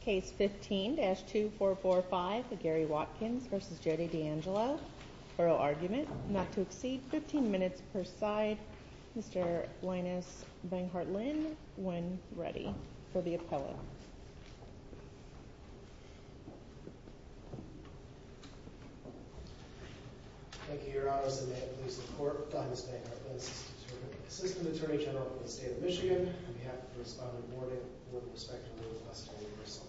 Case 15-2445, Gary Watkins v. Jodie DeAngelo, Borough Argument, not to exceed 15 minutes per side. Mr. Linus Banghart-Linn, when ready for the appellate. Thank you, Your Honors, and may it please the Court, Linus Banghart-Linn, Assistant Attorney General of the State of Michigan, on behalf of the Respondent Board and Board of Respect, I'm going to request a reversal.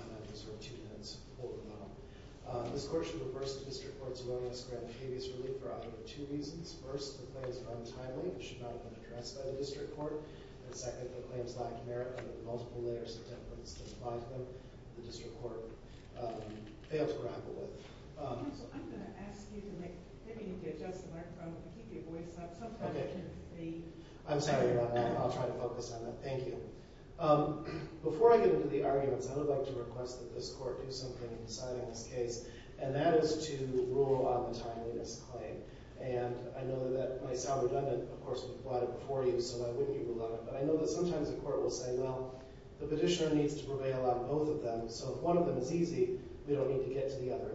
I'm going to sort of two minutes hold them up. This Court should reverse the District Court's willingness to grant habeas relief for either of two reasons. First, the claims are untimely, and should not have been addressed by the District Court. And second, the claims lack merit to the multiple layers of evidence that apply to them that the District Court failed to grapple with. So I'm going to ask you to make, maybe you need to adjust the microphone, keep your voice up, sometimes I can't see. I'm sorry about that, I'll try to focus on that. Thank you. Before I get into the arguments, I would like to request that this Court do something in deciding this case, and that is to rule on the timeliness claim. And I know that might sound redundant, of course, we've brought it before you, so why wouldn't you rule on it? But I know that sometimes the Court will say, well, the petitioner needs to prevail on both of them, so if one of them is easy, we don't need to get to the other.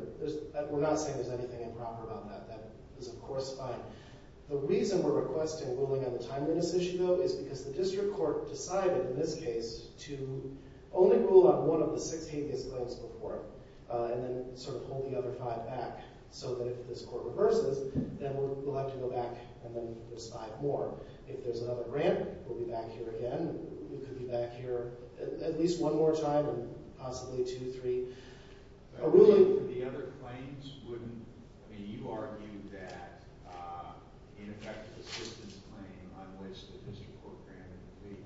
We're not saying there's anything improper about that. That is, of course, fine. The reason we're requesting ruling on the timeliness issue, though, is because the District Court decided, in this case, to only rule on one of the 16 case claims before, and then sort of hold the other five back, so that if this Court reverses, then we'll have to go back, and then there's five more. If there's another grant, we'll be back here again. We could be back here at least one more time, and possibly two, three, a ruling. The other claims wouldn't, I mean, you argued that, in effect, the system's claim on which the District Court granted the plea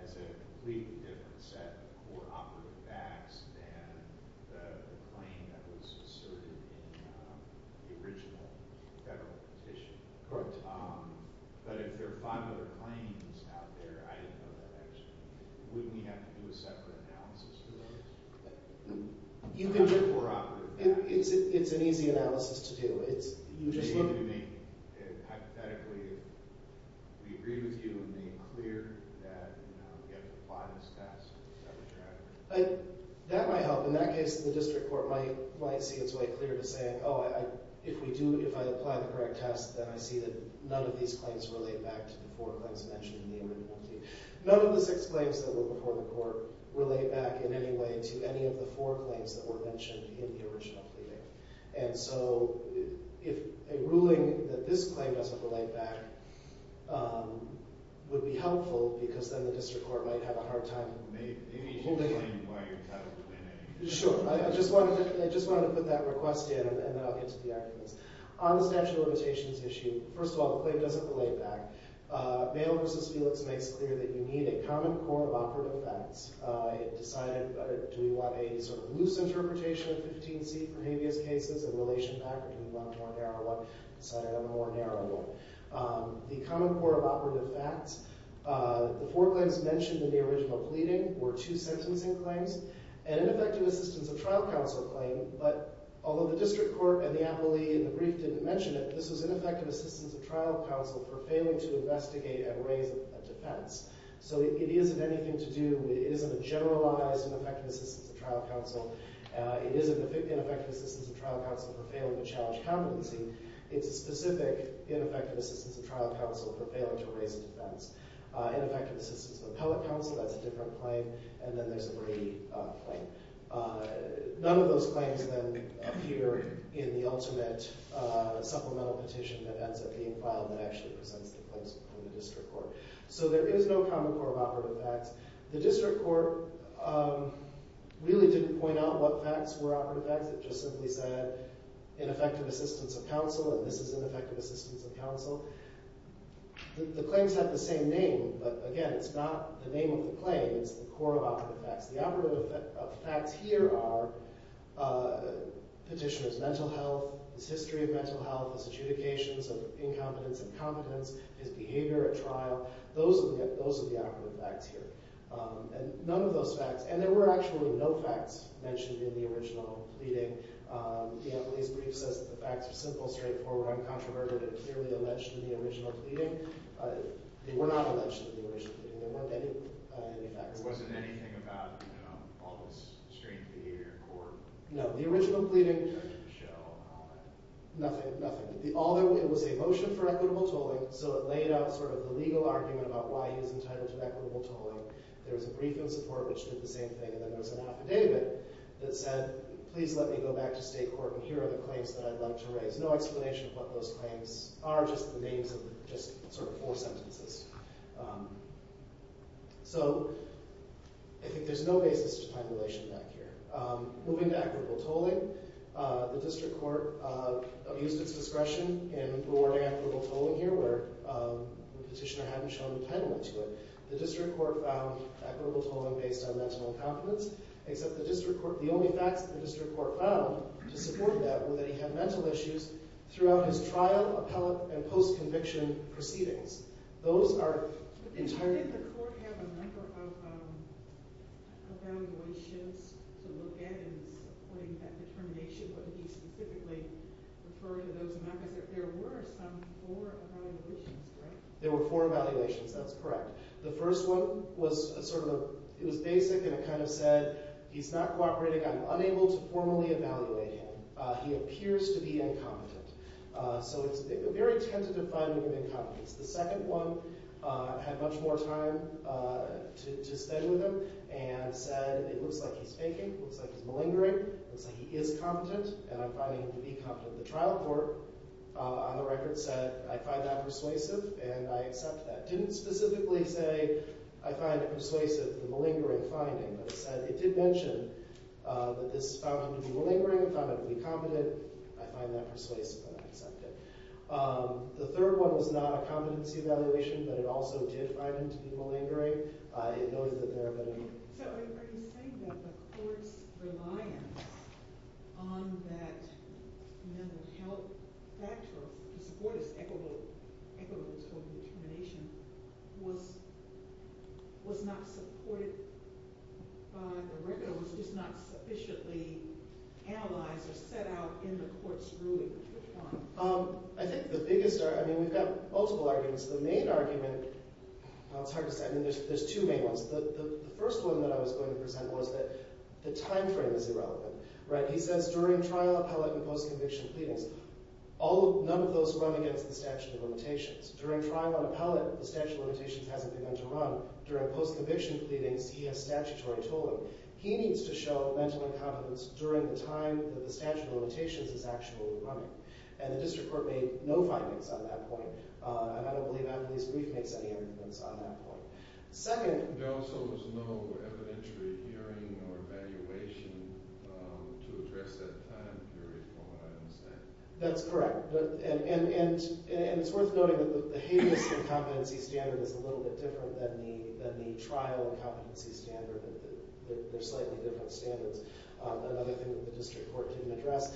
has a completely different set of core operative facts than the claim that was asserted in the original federal petition. Correct. But if there are five other claims out there, I didn't know that, actually, wouldn't we have to do a separate analysis for those? You can do a core operative fact. It's an easy analysis to do. It's, you just look at the claim. Hypothetically, we agree with you in being clear that we have to apply this test. That might help. In that case, the District Court might see its way clear to saying, oh, if we do, if I apply the correct test, then I see that none of these claims relate back to the four claims mentioned in the original plea. None of the six claims that were before the Court relate back in any way to any of the four claims that were mentioned in the original plea. And so, if a ruling that this claim doesn't relate back, would be helpful, because then the District Court might have a hard time holding it. Maybe you can explain why you're trying to explain it. Sure, I just wanted to put that request in, and then I'll get to the arguments. On the statute of limitations issue, first of all, the claim doesn't relate back. Mayo v. Felix makes clear that you need a common core of operative facts. It decided, do we want a sort of loose interpretation of 15C for habeas cases, and relation back, or do we want a more narrow one, et cetera, a more narrow one. The common core of operative facts, the four claims mentioned in the original pleading were two sentencing claims, and an effective assistance of trial counsel claim, but although the District Court and the attorney in the brief didn't mention it, this was ineffective assistance of trial counsel for failing to investigate and raise a defense. So it isn't anything to do, it isn't a generalized and effective assistance of trial counsel. It isn't ineffective assistance of trial counsel for failing to challenge competency. It's a specific ineffective assistance of trial counsel for failing to raise a defense. Ineffective assistance of appellate counsel, that's a different claim, and then there's a Brady claim. None of those claims then appear in the ultimate supplemental petition that ends up being filed that actually presents the claims from the District Court. So there is no common core of operative facts. The District Court really didn't point out what facts were operative facts, it just simply said ineffective assistance of counsel, and this is ineffective assistance of counsel. The claims have the same name, but again, it's not the name of the claim, it's the core of operative facts. The operative facts here are petitioner's mental health, his history of mental health, his adjudications of incompetence and competence, his behavior at trial. Those are the operative facts here, and none of those facts, and there were actually no facts mentioned in the original pleading. The Ambulance Brief says that the facts are simple, straightforward, uncontroverted, and clearly alleged in the original pleading. They were not alleged in the original pleading, there weren't any facts. It wasn't anything about all this strange behavior in court? No, the original pleading, nothing, nothing. It was a motion for equitable tolling, so it laid out sort of the legal argument about why he was entitled to equitable tolling. There was a brief in support, which did the same thing, and then there was an affidavit that said, please let me go back to state court, and here are the claims that I'd like to raise. No explanation of what those claims are, just the names of just sort of four sentences. So, I think there's no basis to time dilation back here. Moving to equitable tolling, the district court abused its discretion in rewarding equitable tolling here, where the petitioner hadn't shown a penalty to it. The district court found equitable tolling based on mental incompetence, except the district court, the only facts that the district court found to support that were that he had mental issues throughout his trial, appellate, and post-conviction proceedings. Those are entirely- But didn't the court have a number of evaluations to look at in supporting that determination? What did he specifically refer to those, not because there were some, four evaluations, right? There were four evaluations, that's correct. The first one was sort of a, it was basic, and it kind of said, he's not cooperating, I'm unable to formally evaluate him. He appears to be incompetent. So it's a very tentative finding of incompetence. The second one had much more time to stay with him, and said, it looks like he's faking, looks like he's malingering, looks like he is competent, and I'm finding him to be competent. The trial court, on the record, said, I find that persuasive, and I accept that. Didn't specifically say, I find it persuasive, the malingering finding, but it said, it did mention that this found him to be malingering, I found him to be competent, I find that persuasive, and I accept it. The third one was not a competency evaluation, but it also did find him to be malingering. It noted that there have been- So are you saying that the court's reliance on that mental health factor, to support his equitable total determination, was not supported by the record, or was just not sufficiently analyzed or set out in the court's ruling, which one? I think the biggest, I mean, we've got multiple arguments. The main argument, it's hard to say, I mean, there's two main ones. The first one that I was going to present was that the timeframe is irrelevant, right? He says, during trial, appellate, and post-conviction pleadings, none of those run against the statute of limitations. During trial and appellate, the statute of limitations hasn't begun to run. During post-conviction pleadings, he has statutory tolling. He needs to show mental incompetence during the time that the statute of limitations is actually running, and the district court made no findings on that point, and I don't believe Anthony's brief makes any evidence on that point. Second. There also was no evidentiary hearing or evaluation to address that time period, from what I understand. That's correct, and it's worth noting that the heinous incompetency standard is a little bit different than the trial incompetency standard, but they're slightly different standards, another thing that the district court didn't address.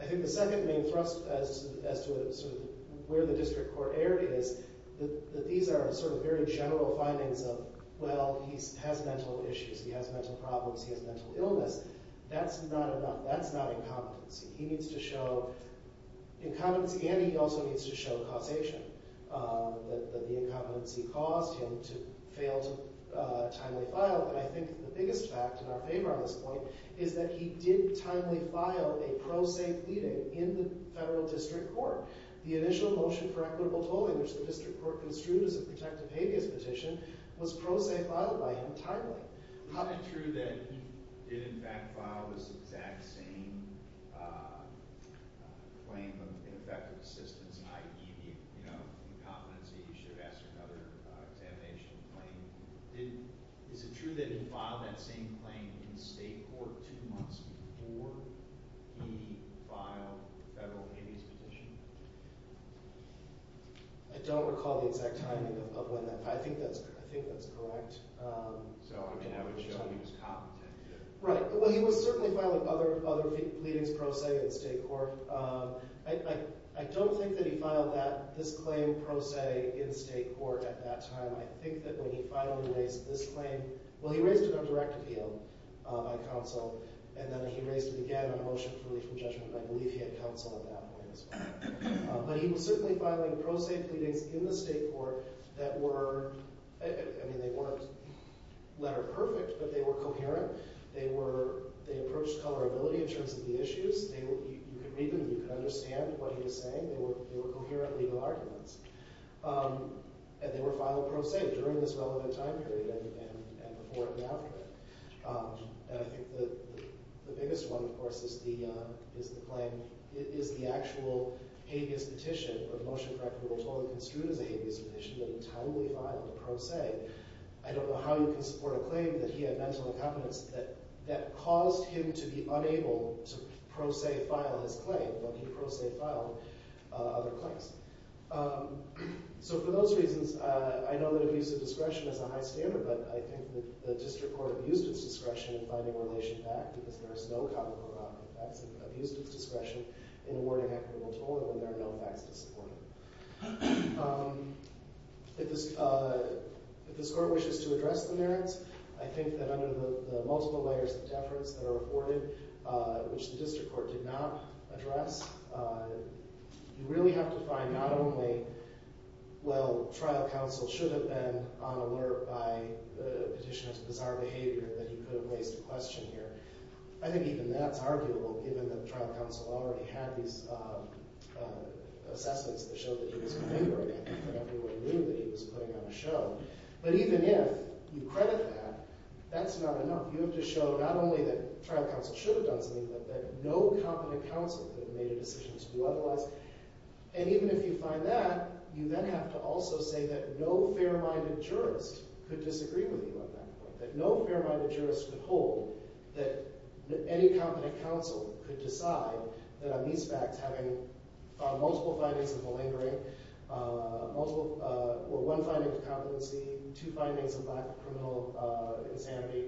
I think the second main thrust as to sort of where the district court error is, that these are sort of very general findings of, well, he has mental issues, he has mental problems, he has mental illness. That's not enough, that's not incompetency. He needs to show incompetency, and he also needs to show causation, that the incompetency caused him to fail to timely file, and I think the biggest fact in our favor on this point is that he did timely file a pro-safe pleading in the federal district court. The initial motion for equitable tolling, which the district court construed as a protective habeas petition, was pro-safe filed by him timely. How is it true that he did, in fact, file this exact same claim of ineffective assistance, i.e., the incompetency, you should have asked for another examination claim. Is it true that he filed that same claim in state court two months before he filed the federal habeas petition? I don't recall the exact timing of when that, I think that's correct. So, I mean, I would assume he was competent. Right, well, he was certainly filing other pleadings pro se in state court. I don't think that he filed that, this claim pro se in state court at that time. I think that when he finally raised this claim, well, he raised it on direct appeal by counsel, and then he raised it again on a motion for relief from judgment, but I believe he had counsel at that point as well. But he was certainly filing pro-safe pleadings in the state court that were, I mean, they weren't letter perfect, but they were coherent. They approached colorability in terms of the issues. You could read them, you could understand what he was saying. They were coherent legal arguments. And they were filed pro se during this relevant time period and before and after. And I think the biggest one, of course, is the claim, is the actual habeas petition, or the motion for equitable toll and construed as a habeas petition that entirely filed a pro se. I don't know how you can support a claim that he had mental incompetence that caused him to be unable to pro se file his claim, but he pro se filed other claims. So, for those reasons, I know that abuse of discretion is a high standard, but I think the district court abused its discretion in finding relation back because there is no common ground. In fact, it abused its discretion in awarding equitable toll and there are no facts to support it. If this court wishes to address the merits, I think that under the multiple layers of deference that are afforded, which the district court did not address, you really have to find not only, well, trial counsel should have been on alert by the petitioner's bizarre behavior that he could have raised a question here. I think even that's arguable given that trial counsel already had these assessments that showed that he was configuring it and that everyone knew that he was putting on a show. But even if you credit that, that's not enough. You have to show not only that trial counsel should have done something, but that no competent counsel could have made a decision to do otherwise. And even if you find that, you then have to also say that no fair-minded jurist could disagree with you on that point, that no fair-minded jurist could hold that any competent counsel could decide that on these facts, having multiple findings of malingering, or one finding of competency, two findings of lack of criminal insanity,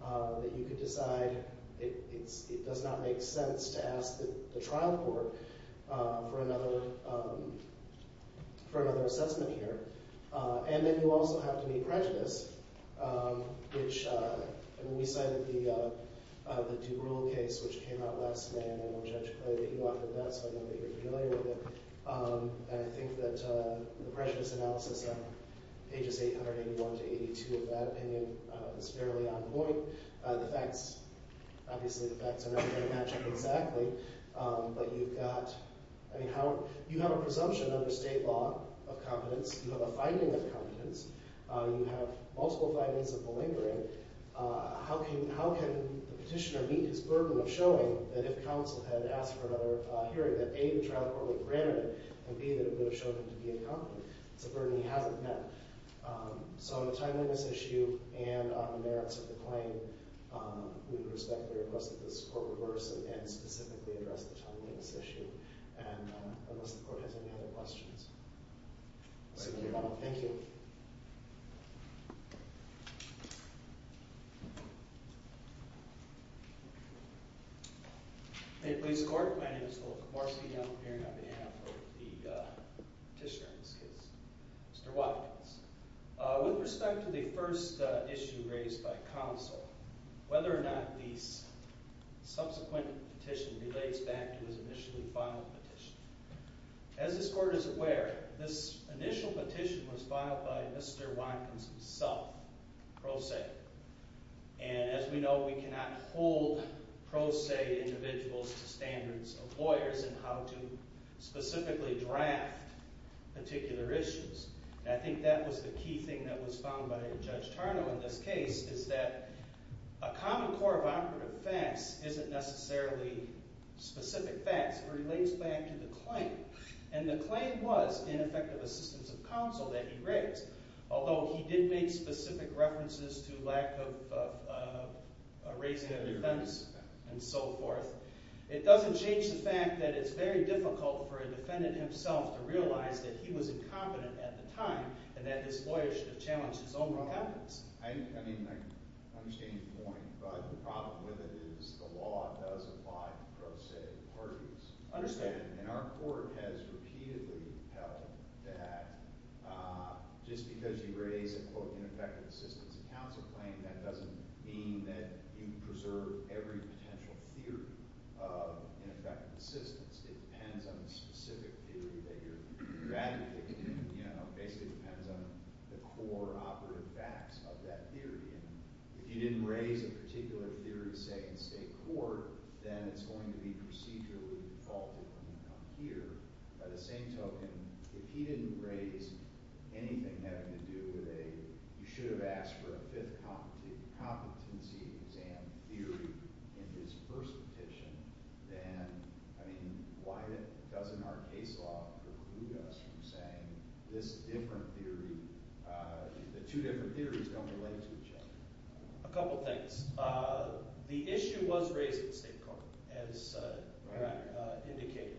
that you could decide it does not make sense to ask the trial court for another assessment here. And then you also have to be prejudiced which, when we cited the Dubrual case, which came out last May, and I know Judge Clay that you authored that, so I know that you're familiar with it. And I think that the prejudice analysis on pages 881 to 82 of that opinion is fairly on point. The facts, obviously the facts are not going to match up exactly, but you've got, I mean, how, you have a presumption under state law of competence, you have a finding of competence, you have multiple findings of malingering, how can the petitioner meet his burden of showing that if counsel had asked for another hearing, that A, the trial court would have granted it, and B, that it would have shown him to be incompetent? It's a burden he hasn't met. So on the timeliness issue, and on the merits of the claim, we respectfully request that this court reverse and unless the court has any other questions. Thank you. Thank you. Hey, please, court. My name is Will Komorski, and I'm appearing on behalf of the petitioner in this case, Mr. Watkins. With respect to the first issue raised by counsel, whether or not the subsequent petition relates back to his initially filed petition. As this court is aware, this initial petition was filed by Mr. Watkins himself, pro se. And as we know, we cannot hold pro se individuals to standards of lawyers in how to specifically draft particular issues. And I think that was the key thing that was found by Judge Tarnow in this case, is that a common core of operative facts isn't necessarily specific facts. It relates back to the claim. And the claim was, in effect, of assistance of counsel that he raised, although he did make specific references to lack of raising of defendants and so forth. It doesn't change the fact that it's very difficult for a defendant himself to realize that he was incompetent at the time, and that this lawyer should have challenged his own wrongdoings. I mean, I understand your point, but the problem with it is the law does apply to pro se parties. Understand, and our court has repeatedly held that just because you raise a, quote, ineffective assistance of counsel claim, that doesn't mean that you preserve every potential theory of ineffective assistance. It depends on the specific theory that you're advocating. Basically, it depends on the core operative facts of that theory. And if you didn't raise a particular theory, say, in state court, then it's going to be procedurally defaulted when you come here. By the same token, if he didn't raise anything having to do with a, you should have asked for a fifth competency exam theory in his first petition, then, I mean, why doesn't our case law preclude us from saying this different theory, the two different theories don't relate to each other? A couple things. The issue was raised in state court, as indicated.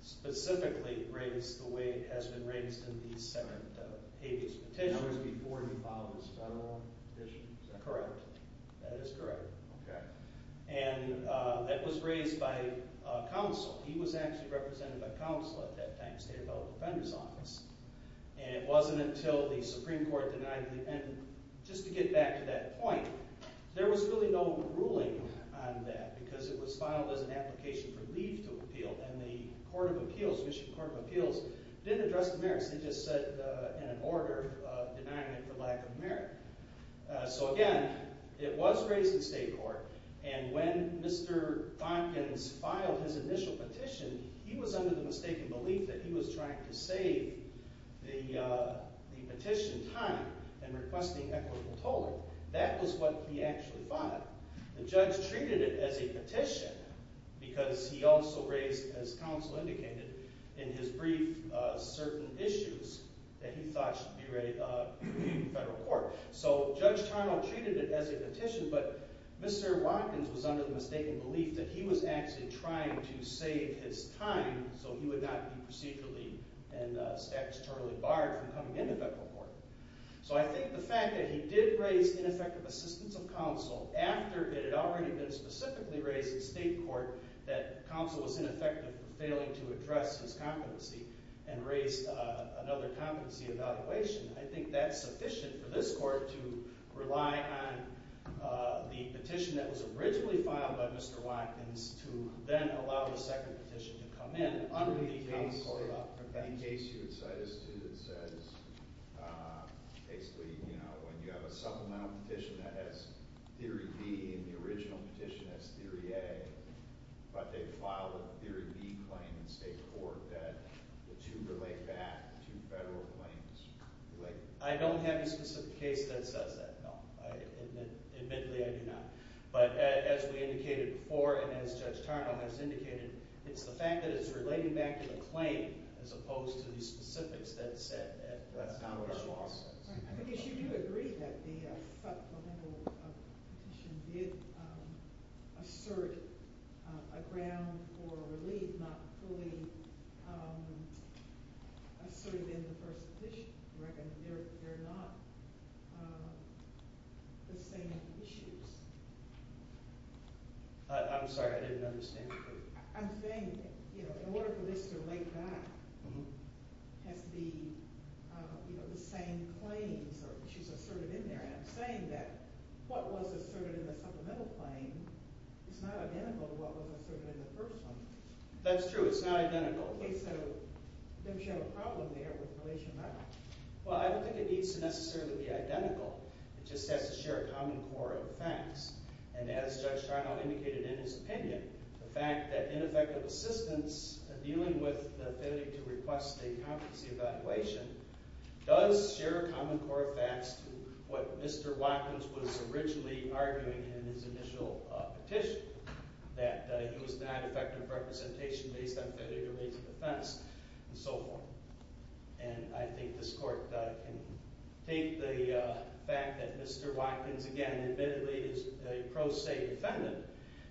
Specifically, raised the way it has been raised in these seven habeas petitions before he filed his federal petition, is that correct? That is correct. And that was raised by counsel. He was actually represented by counsel at that time, State Appellate Defender's Office. And it wasn't until the Supreme Court denied the, and just to get back to that point, there was really no ruling on that because it was filed as an application for leave to appeal, and the Court of Appeals, Michigan Court of Appeals, didn't address the merits. They just said, in an order, denying it for lack of merit. So again, it was raised in state court, and when Mr. Thompkins filed his initial petition, he was under the mistaken belief that he was trying to save the petition time and requesting equitable tolling. That was what he actually thought. The judge treated it as a petition because he also raised, as counsel indicated, in his brief, certain issues that he thought should be readied in federal court. So Judge Tarnow treated it as a petition, but Mr. Watkins was under the mistaken belief that he was actually trying to save his time so he would not be procedurally and statutorily barred from coming into federal court. So I think the fact that he did raise ineffective assistance of counsel after it had already been specifically raised in state court that counsel was ineffective for failing to address his competency and raised another competency evaluation, I think that's sufficient for this court to rely on the petition that was originally filed by Mr. Watkins to then allow the second petition to come in under the case of prevention. In case you would cite a student that says, basically, when you have a supplemental petition that has theory B and the original petition has theory A, but they filed a theory B claim in state court that the two relate back to federal claims. I don't have a specific case that says that, no. Admittedly, I do not. But as we indicated before and as Judge Tarnow has indicated, it's the fact that it's relating back to the claim as opposed to the specifics that it said that that's not what the law says. I guess you do agree that the supplemental petition did assert a ground for relief, not fully asserted in the first petition. I reckon they're not the same issues. I'm sorry, I didn't understand. I'm saying, in order for this to relate back, has to be the same claims, or she's asserted in there. And I'm saying that what was asserted in the supplemental claim is not identical to what was asserted in the first one. That's true, it's not identical. Okay, so, then we should have a problem there with relation back. Well, I don't think it needs to necessarily be identical. It just has to share a common core of facts. And as Judge Tarnow indicated in his opinion, the fact that ineffective assistance in dealing with the affinity to request a competency evaluation does share a common core of facts to what Mr. Watkins was originally arguing in his initial petition, that he was not effective representation based on affinity to raise a defense, and so forth. And I think this court can take the fact that Mr. Watkins, again, admittedly is a pro se defendant,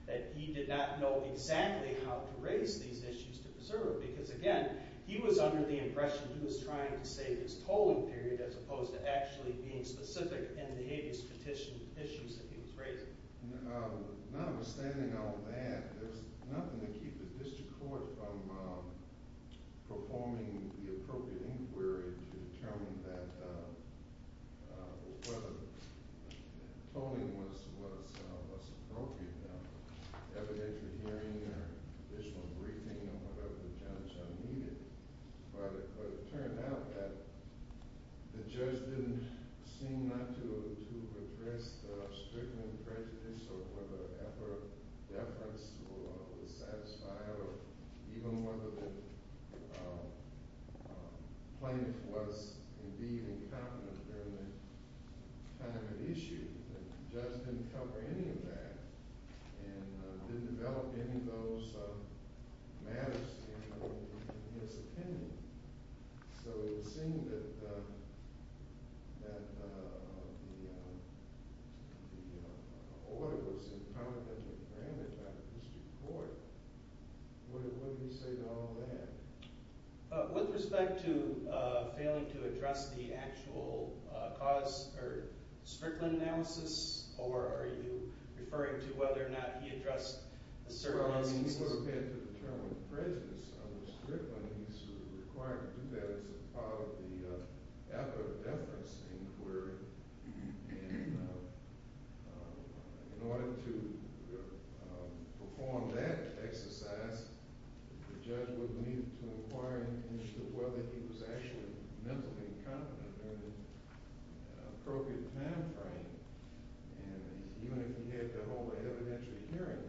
that he did not know exactly how to raise these issues to preserve. Because again, he was under the impression he was trying to save his tolling period as opposed to actually being specific in the habeas petition issues that he was raising. Notwithstanding all that, there's nothing to keep the district court from performing the appropriate inquiry to determine that whether tolling was appropriate. Evidentiary hearing, or additional briefing, or whatever the judge needed. But it turned out that the judge didn't seem not to address the stricken prejudice, or whether the efforts were satisfied, or even whether the plaintiff was indeed incompetent during the time of issue. The judge didn't cover any of that, and didn't develop any of those matters in his opinion. So it seemed that the order was incompetent and granted by the district court. What did he say to all that? With respect to failing to address the actual cause, or strickland analysis, or are you referring to whether or not he addressed a certain instances? Well, he would have had to determine the prejudice of the strickland. He's required to do that as a part of the effort of deference inquiry. In order to perform that exercise, the judge would need to inquire as to whether he was actually mentally incompetent during the appropriate time frame. And even if he had to hold a evidentiary hearing,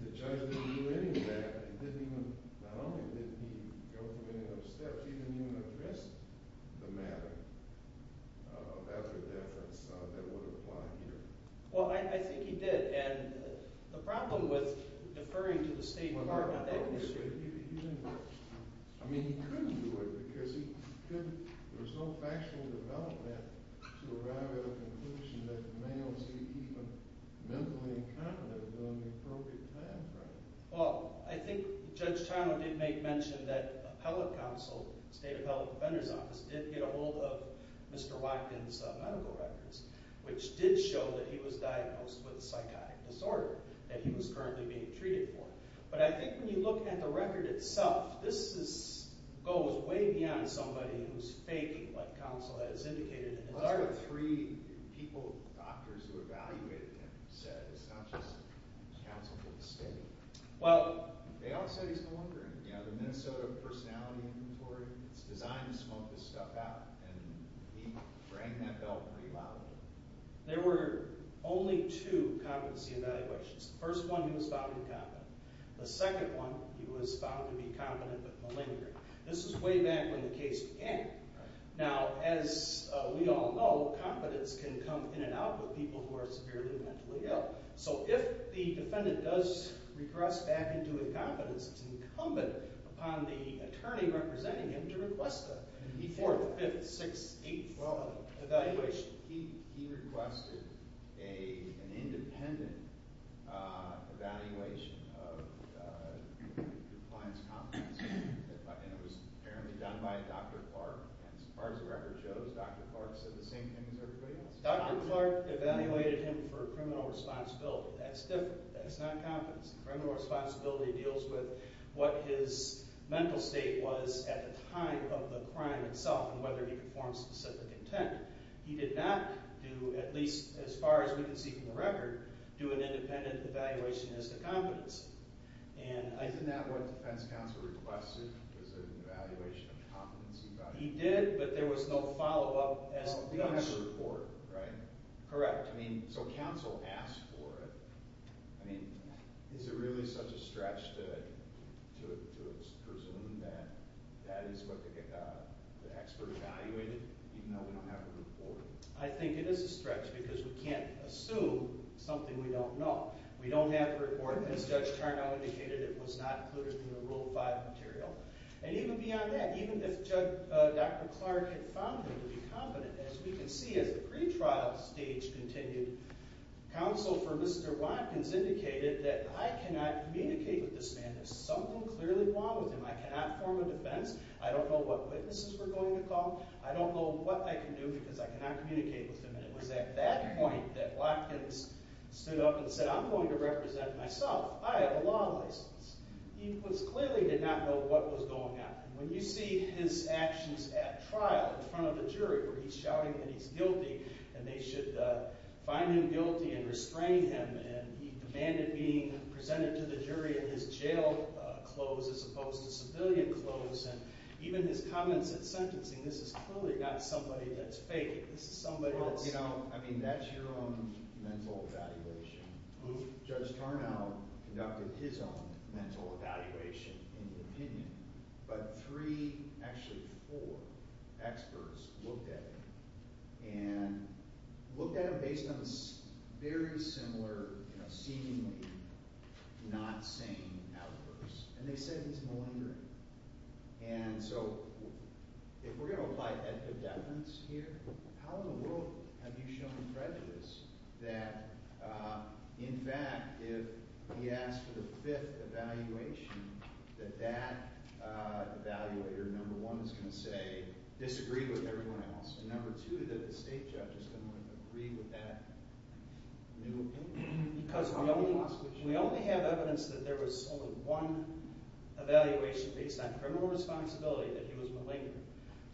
the judge didn't do any of that. He didn't even, not only didn't he go through any of those steps, he didn't even address the matter of effort of deference that would apply here. Well, I think he did, and the problem with deferring to the state department of that district. He didn't, I mean he couldn't do it because he couldn't, there was no factual development to arrive at a conclusion that the man was even mentally incompetent during the appropriate time frame. Well, I think Judge Tyler did make mention that appellate counsel, state appellate defender's office did get a hold of Mr. Watkins' medical records, which did show that he was diagnosed with a psychotic disorder that he was currently being treated for. But I think when you look at the record itself, this goes way beyond somebody who's faking what counsel has indicated. And there are three people, doctors who evaluated him said it's not just counsel for the state. Well, they all said he's malingering. You know, the Minnesota Personality Inventory, it's designed to smoke this stuff out. And he rang that bell pretty loudly. There were only two competency evaluations. The first one, he was found incompetent. The second one, he was found to be competent but malingering. This is way back when the case began. Now, as we all know, competence can come in and out with people who are severely mentally ill. So if the defendant does regress back into incompetence, it's incumbent upon the attorney representing him to request a fourth, fifth, sixth, eighth evaluation. He requested an independent evaluation of the client's competence. And it was apparently done by Dr. Clark. And as far as the record shows, Dr. Clark said the same thing as everybody else. Dr. Clark evaluated him for criminal responsibility. That's different, that's not competence. Criminal responsibility deals with what his mental state was at the time of the crime itself and whether he could form specific intent. He did not do, at least as far as we can see from the record, do an independent evaluation as to competence. And I- Isn't that what defense counsel requested? Was there an evaluation of competence he got? He did, but there was no follow-up as to competence. Well, we don't have a report, right? Correct. I mean, so counsel asked for it. I mean, is it really such a stretch to presume that that is what the expert evaluated, even though we don't have a report? I think it is a stretch because we can't assume something we don't know. We don't have a report, as Judge Tarnow indicated, it was not included in the Rule 5 material. And even beyond that, even if Dr. Clark had found him to be competent, as we can see as the pretrial stage continued, counsel for Mr. Watkins indicated that I cannot communicate with this man. There's something clearly wrong with him. I cannot form a defense. I don't know what witnesses we're going to call. I don't know what I can do because I cannot communicate with him. And it was at that point that Watkins stood up and said, I'm going to represent myself. I have a law license. He clearly did not know what was going on. When you see his actions at trial in front of the jury, where he's shouting that he's guilty, and they should find him guilty and restrain him, and he demanded being presented to the jury in his jail clothes as opposed to civilian clothes, and even his comments at sentencing, this is clearly not somebody that's faking. This is somebody that's... Well, you know, I mean, that's your own mental evaluation. Judge Tarnow conducted his own mental evaluation in the opinion, but three, actually four experts looked at him and looked at him based on very similar, seemingly not sane outbursts, and they said he's malingering. And so if we're going to apply epidemics here, how in the world have you shown prejudice that, in fact, if he asked for the fifth evaluation, that that evaluator, number one, is going to say, disagree with everyone else, and number two, that the state judge is going to agree with that new opinion? Because we only have evidence that there was only one evaluation based on criminal responsibility, that he was malingering.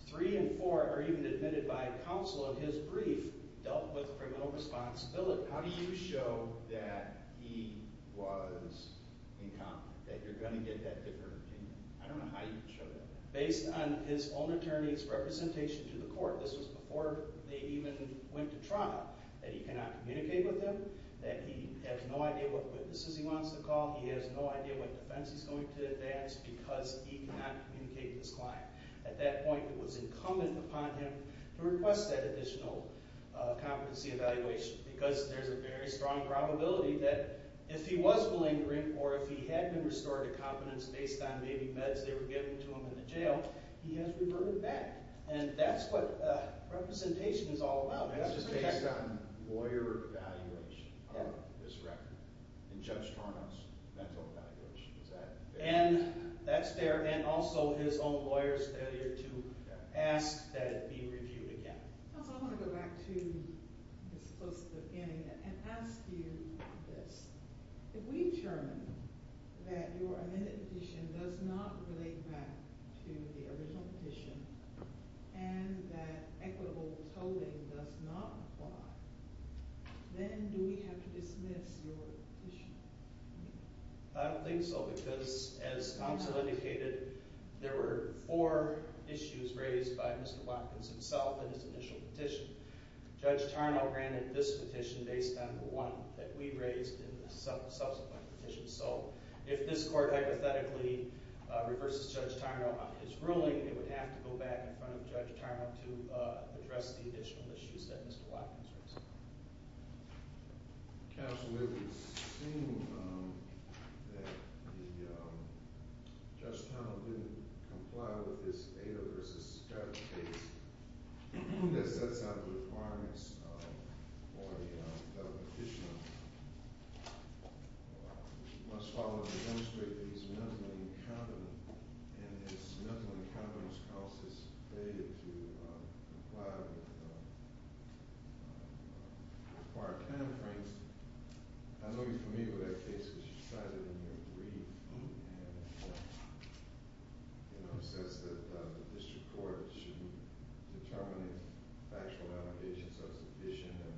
Three and four are even admitted by counsel of his brief dealt with criminal responsibility. How do you show that he was incompetent, that you're going to get that different opinion? I don't know how you show that. Based on his own attorney's representation to the court, this was before they even went to trial, that he cannot communicate with them, that he has no idea what witnesses he wants to call, he has no idea what defense he's going to advance, because he cannot communicate with his client. At that point, it was incumbent upon him to request that additional competency evaluation, because there's a very strong probability that if he was malingering, or if he had been restored to competence based on maybe meds they were giving to him in the jail, he has reverted back. And that's what representation is all about. That's just based on lawyer evaluation of this record. And Judge Torno's mental evaluation is that. And that's there, and also his own lawyer's failure to ask that it be reviewed again. Also, I want to go back to this close to the beginning, and ask you this. If we determine that your amended petition does not relate back to the original petition, and that equitable tolling does not apply, then do we have to dismiss your petition? I don't think so, because as counsel indicated, there were four issues raised by Mr. Watkins himself in his initial petition. Judge Torno granted this petition based on the one that we raised in the subsequent petition. So if this court hypothetically reverses Judge Torno on his ruling, it would have to go back in front of Judge Torno to address the additional issues that Mr. Watkins raised. Counsel, it would seem that Judge Torno didn't comply with his data versus Scott's case. That sets out the requirements for the federal petition. We must follow to demonstrate that he's mentally incompetent, and his mental incompetence causes his data to comply with required timeframes. I know you're familiar with that case, because you cited it in your brief. It says that the district court should determine if factual allegations are sufficient, and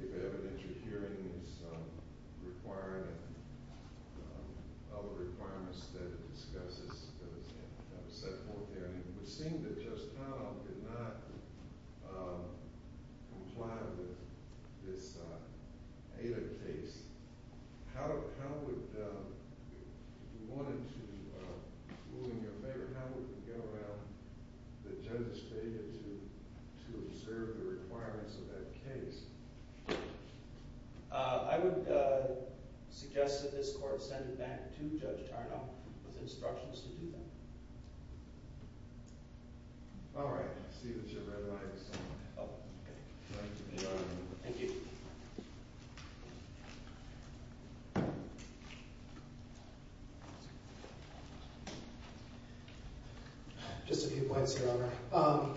if evidentiary hearing is required, and other requirements that it discusses, that was set forth there. And it would seem that Judge Torno did not comply with this data case. How would, if you wanted to, ruling in your favor, how would you go around the judge's data to observe the requirements of that case? I would suggest that this court send it back to Judge Torno with instructions to do that. All right, I see that your red light is on. Oh, okay. Thank you. Just a few points, Your Honor.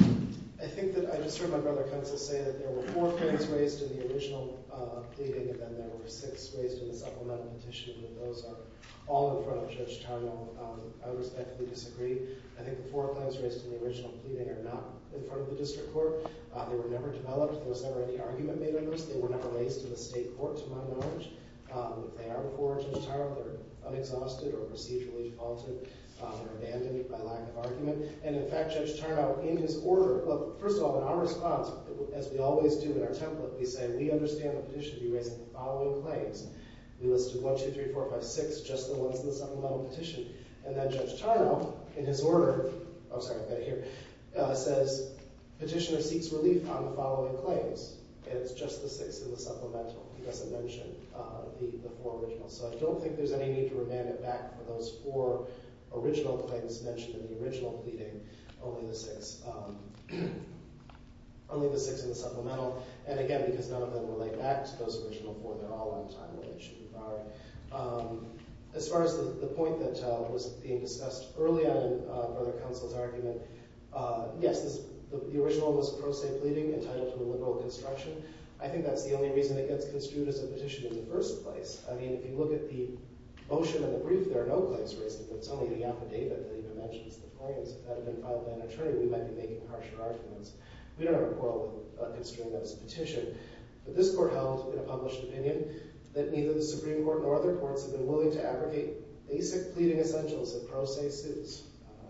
I think that, I just heard my brother counsel say that there were four things raised in the original dating, and then there were six raised in the supplemental petition, and those are all in front of Judge Torno. I respectfully disagree. I think the four claims raised in the original pleading are not in front of the district court. They were never developed. There was never any argument made on this. They were never raised to the state court, to my knowledge. If they are before Judge Torno, they're unexhausted or procedurally faulted. They're abandoned by lack of argument. And in fact, Judge Torno, in his order, well, first of all, in our response, as we always do in our template, we say we understand the petition to be raising the following claims. We listed one, two, three, four, five, six, just the ones in the supplemental petition. And then Judge Torno, in his order, oh, sorry, I've got to hear, says petitioner seeks relief on the following claims, and it's just the six in the supplemental. He doesn't mention the four originals. So I don't think there's any need to remand it back for those four original claims mentioned in the original pleading, only the six in the supplemental. And again, because none of them relate back to those original four, they're all untitled, they should be borrowed. As far as the point that was being discussed early on in Brother Counsel's argument, yes, the original was a pro se pleading entitled to a liberal construction. I think that's the only reason it gets construed as a petition in the first place. I mean, if you look at the motion and the brief, there are no claims raised. If it's only the affidavit that even mentions the claims, if that had been filed by an attorney, we might be making harsher arguments. We don't have a problem with construing that as a petition. But this court held, in a published opinion, that neither the Supreme Court nor other courts have been willing to abrogate basic pleading essentials that pro se suits.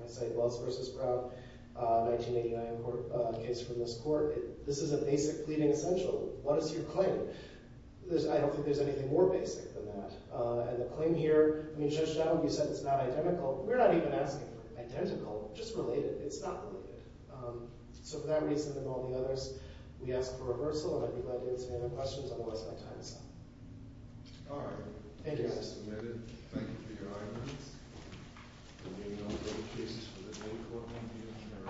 I cite Wells v. Brown, 1989 case from this court. This is a basic pleading essential. What is your claim? I don't think there's anything more basic than that. And the claim here, I mean, Judge Dowd, you said it's not identical. We're not even asking for identical, just related. It's not related. So for that reason and all the others, we ask for reversal, and I'd be glad to answer any other questions, otherwise I have time to stop. All right. Thank you, Your Honor. It is submitted. Thank you for your arguments. We'll be moving on to other cases for the day, court members.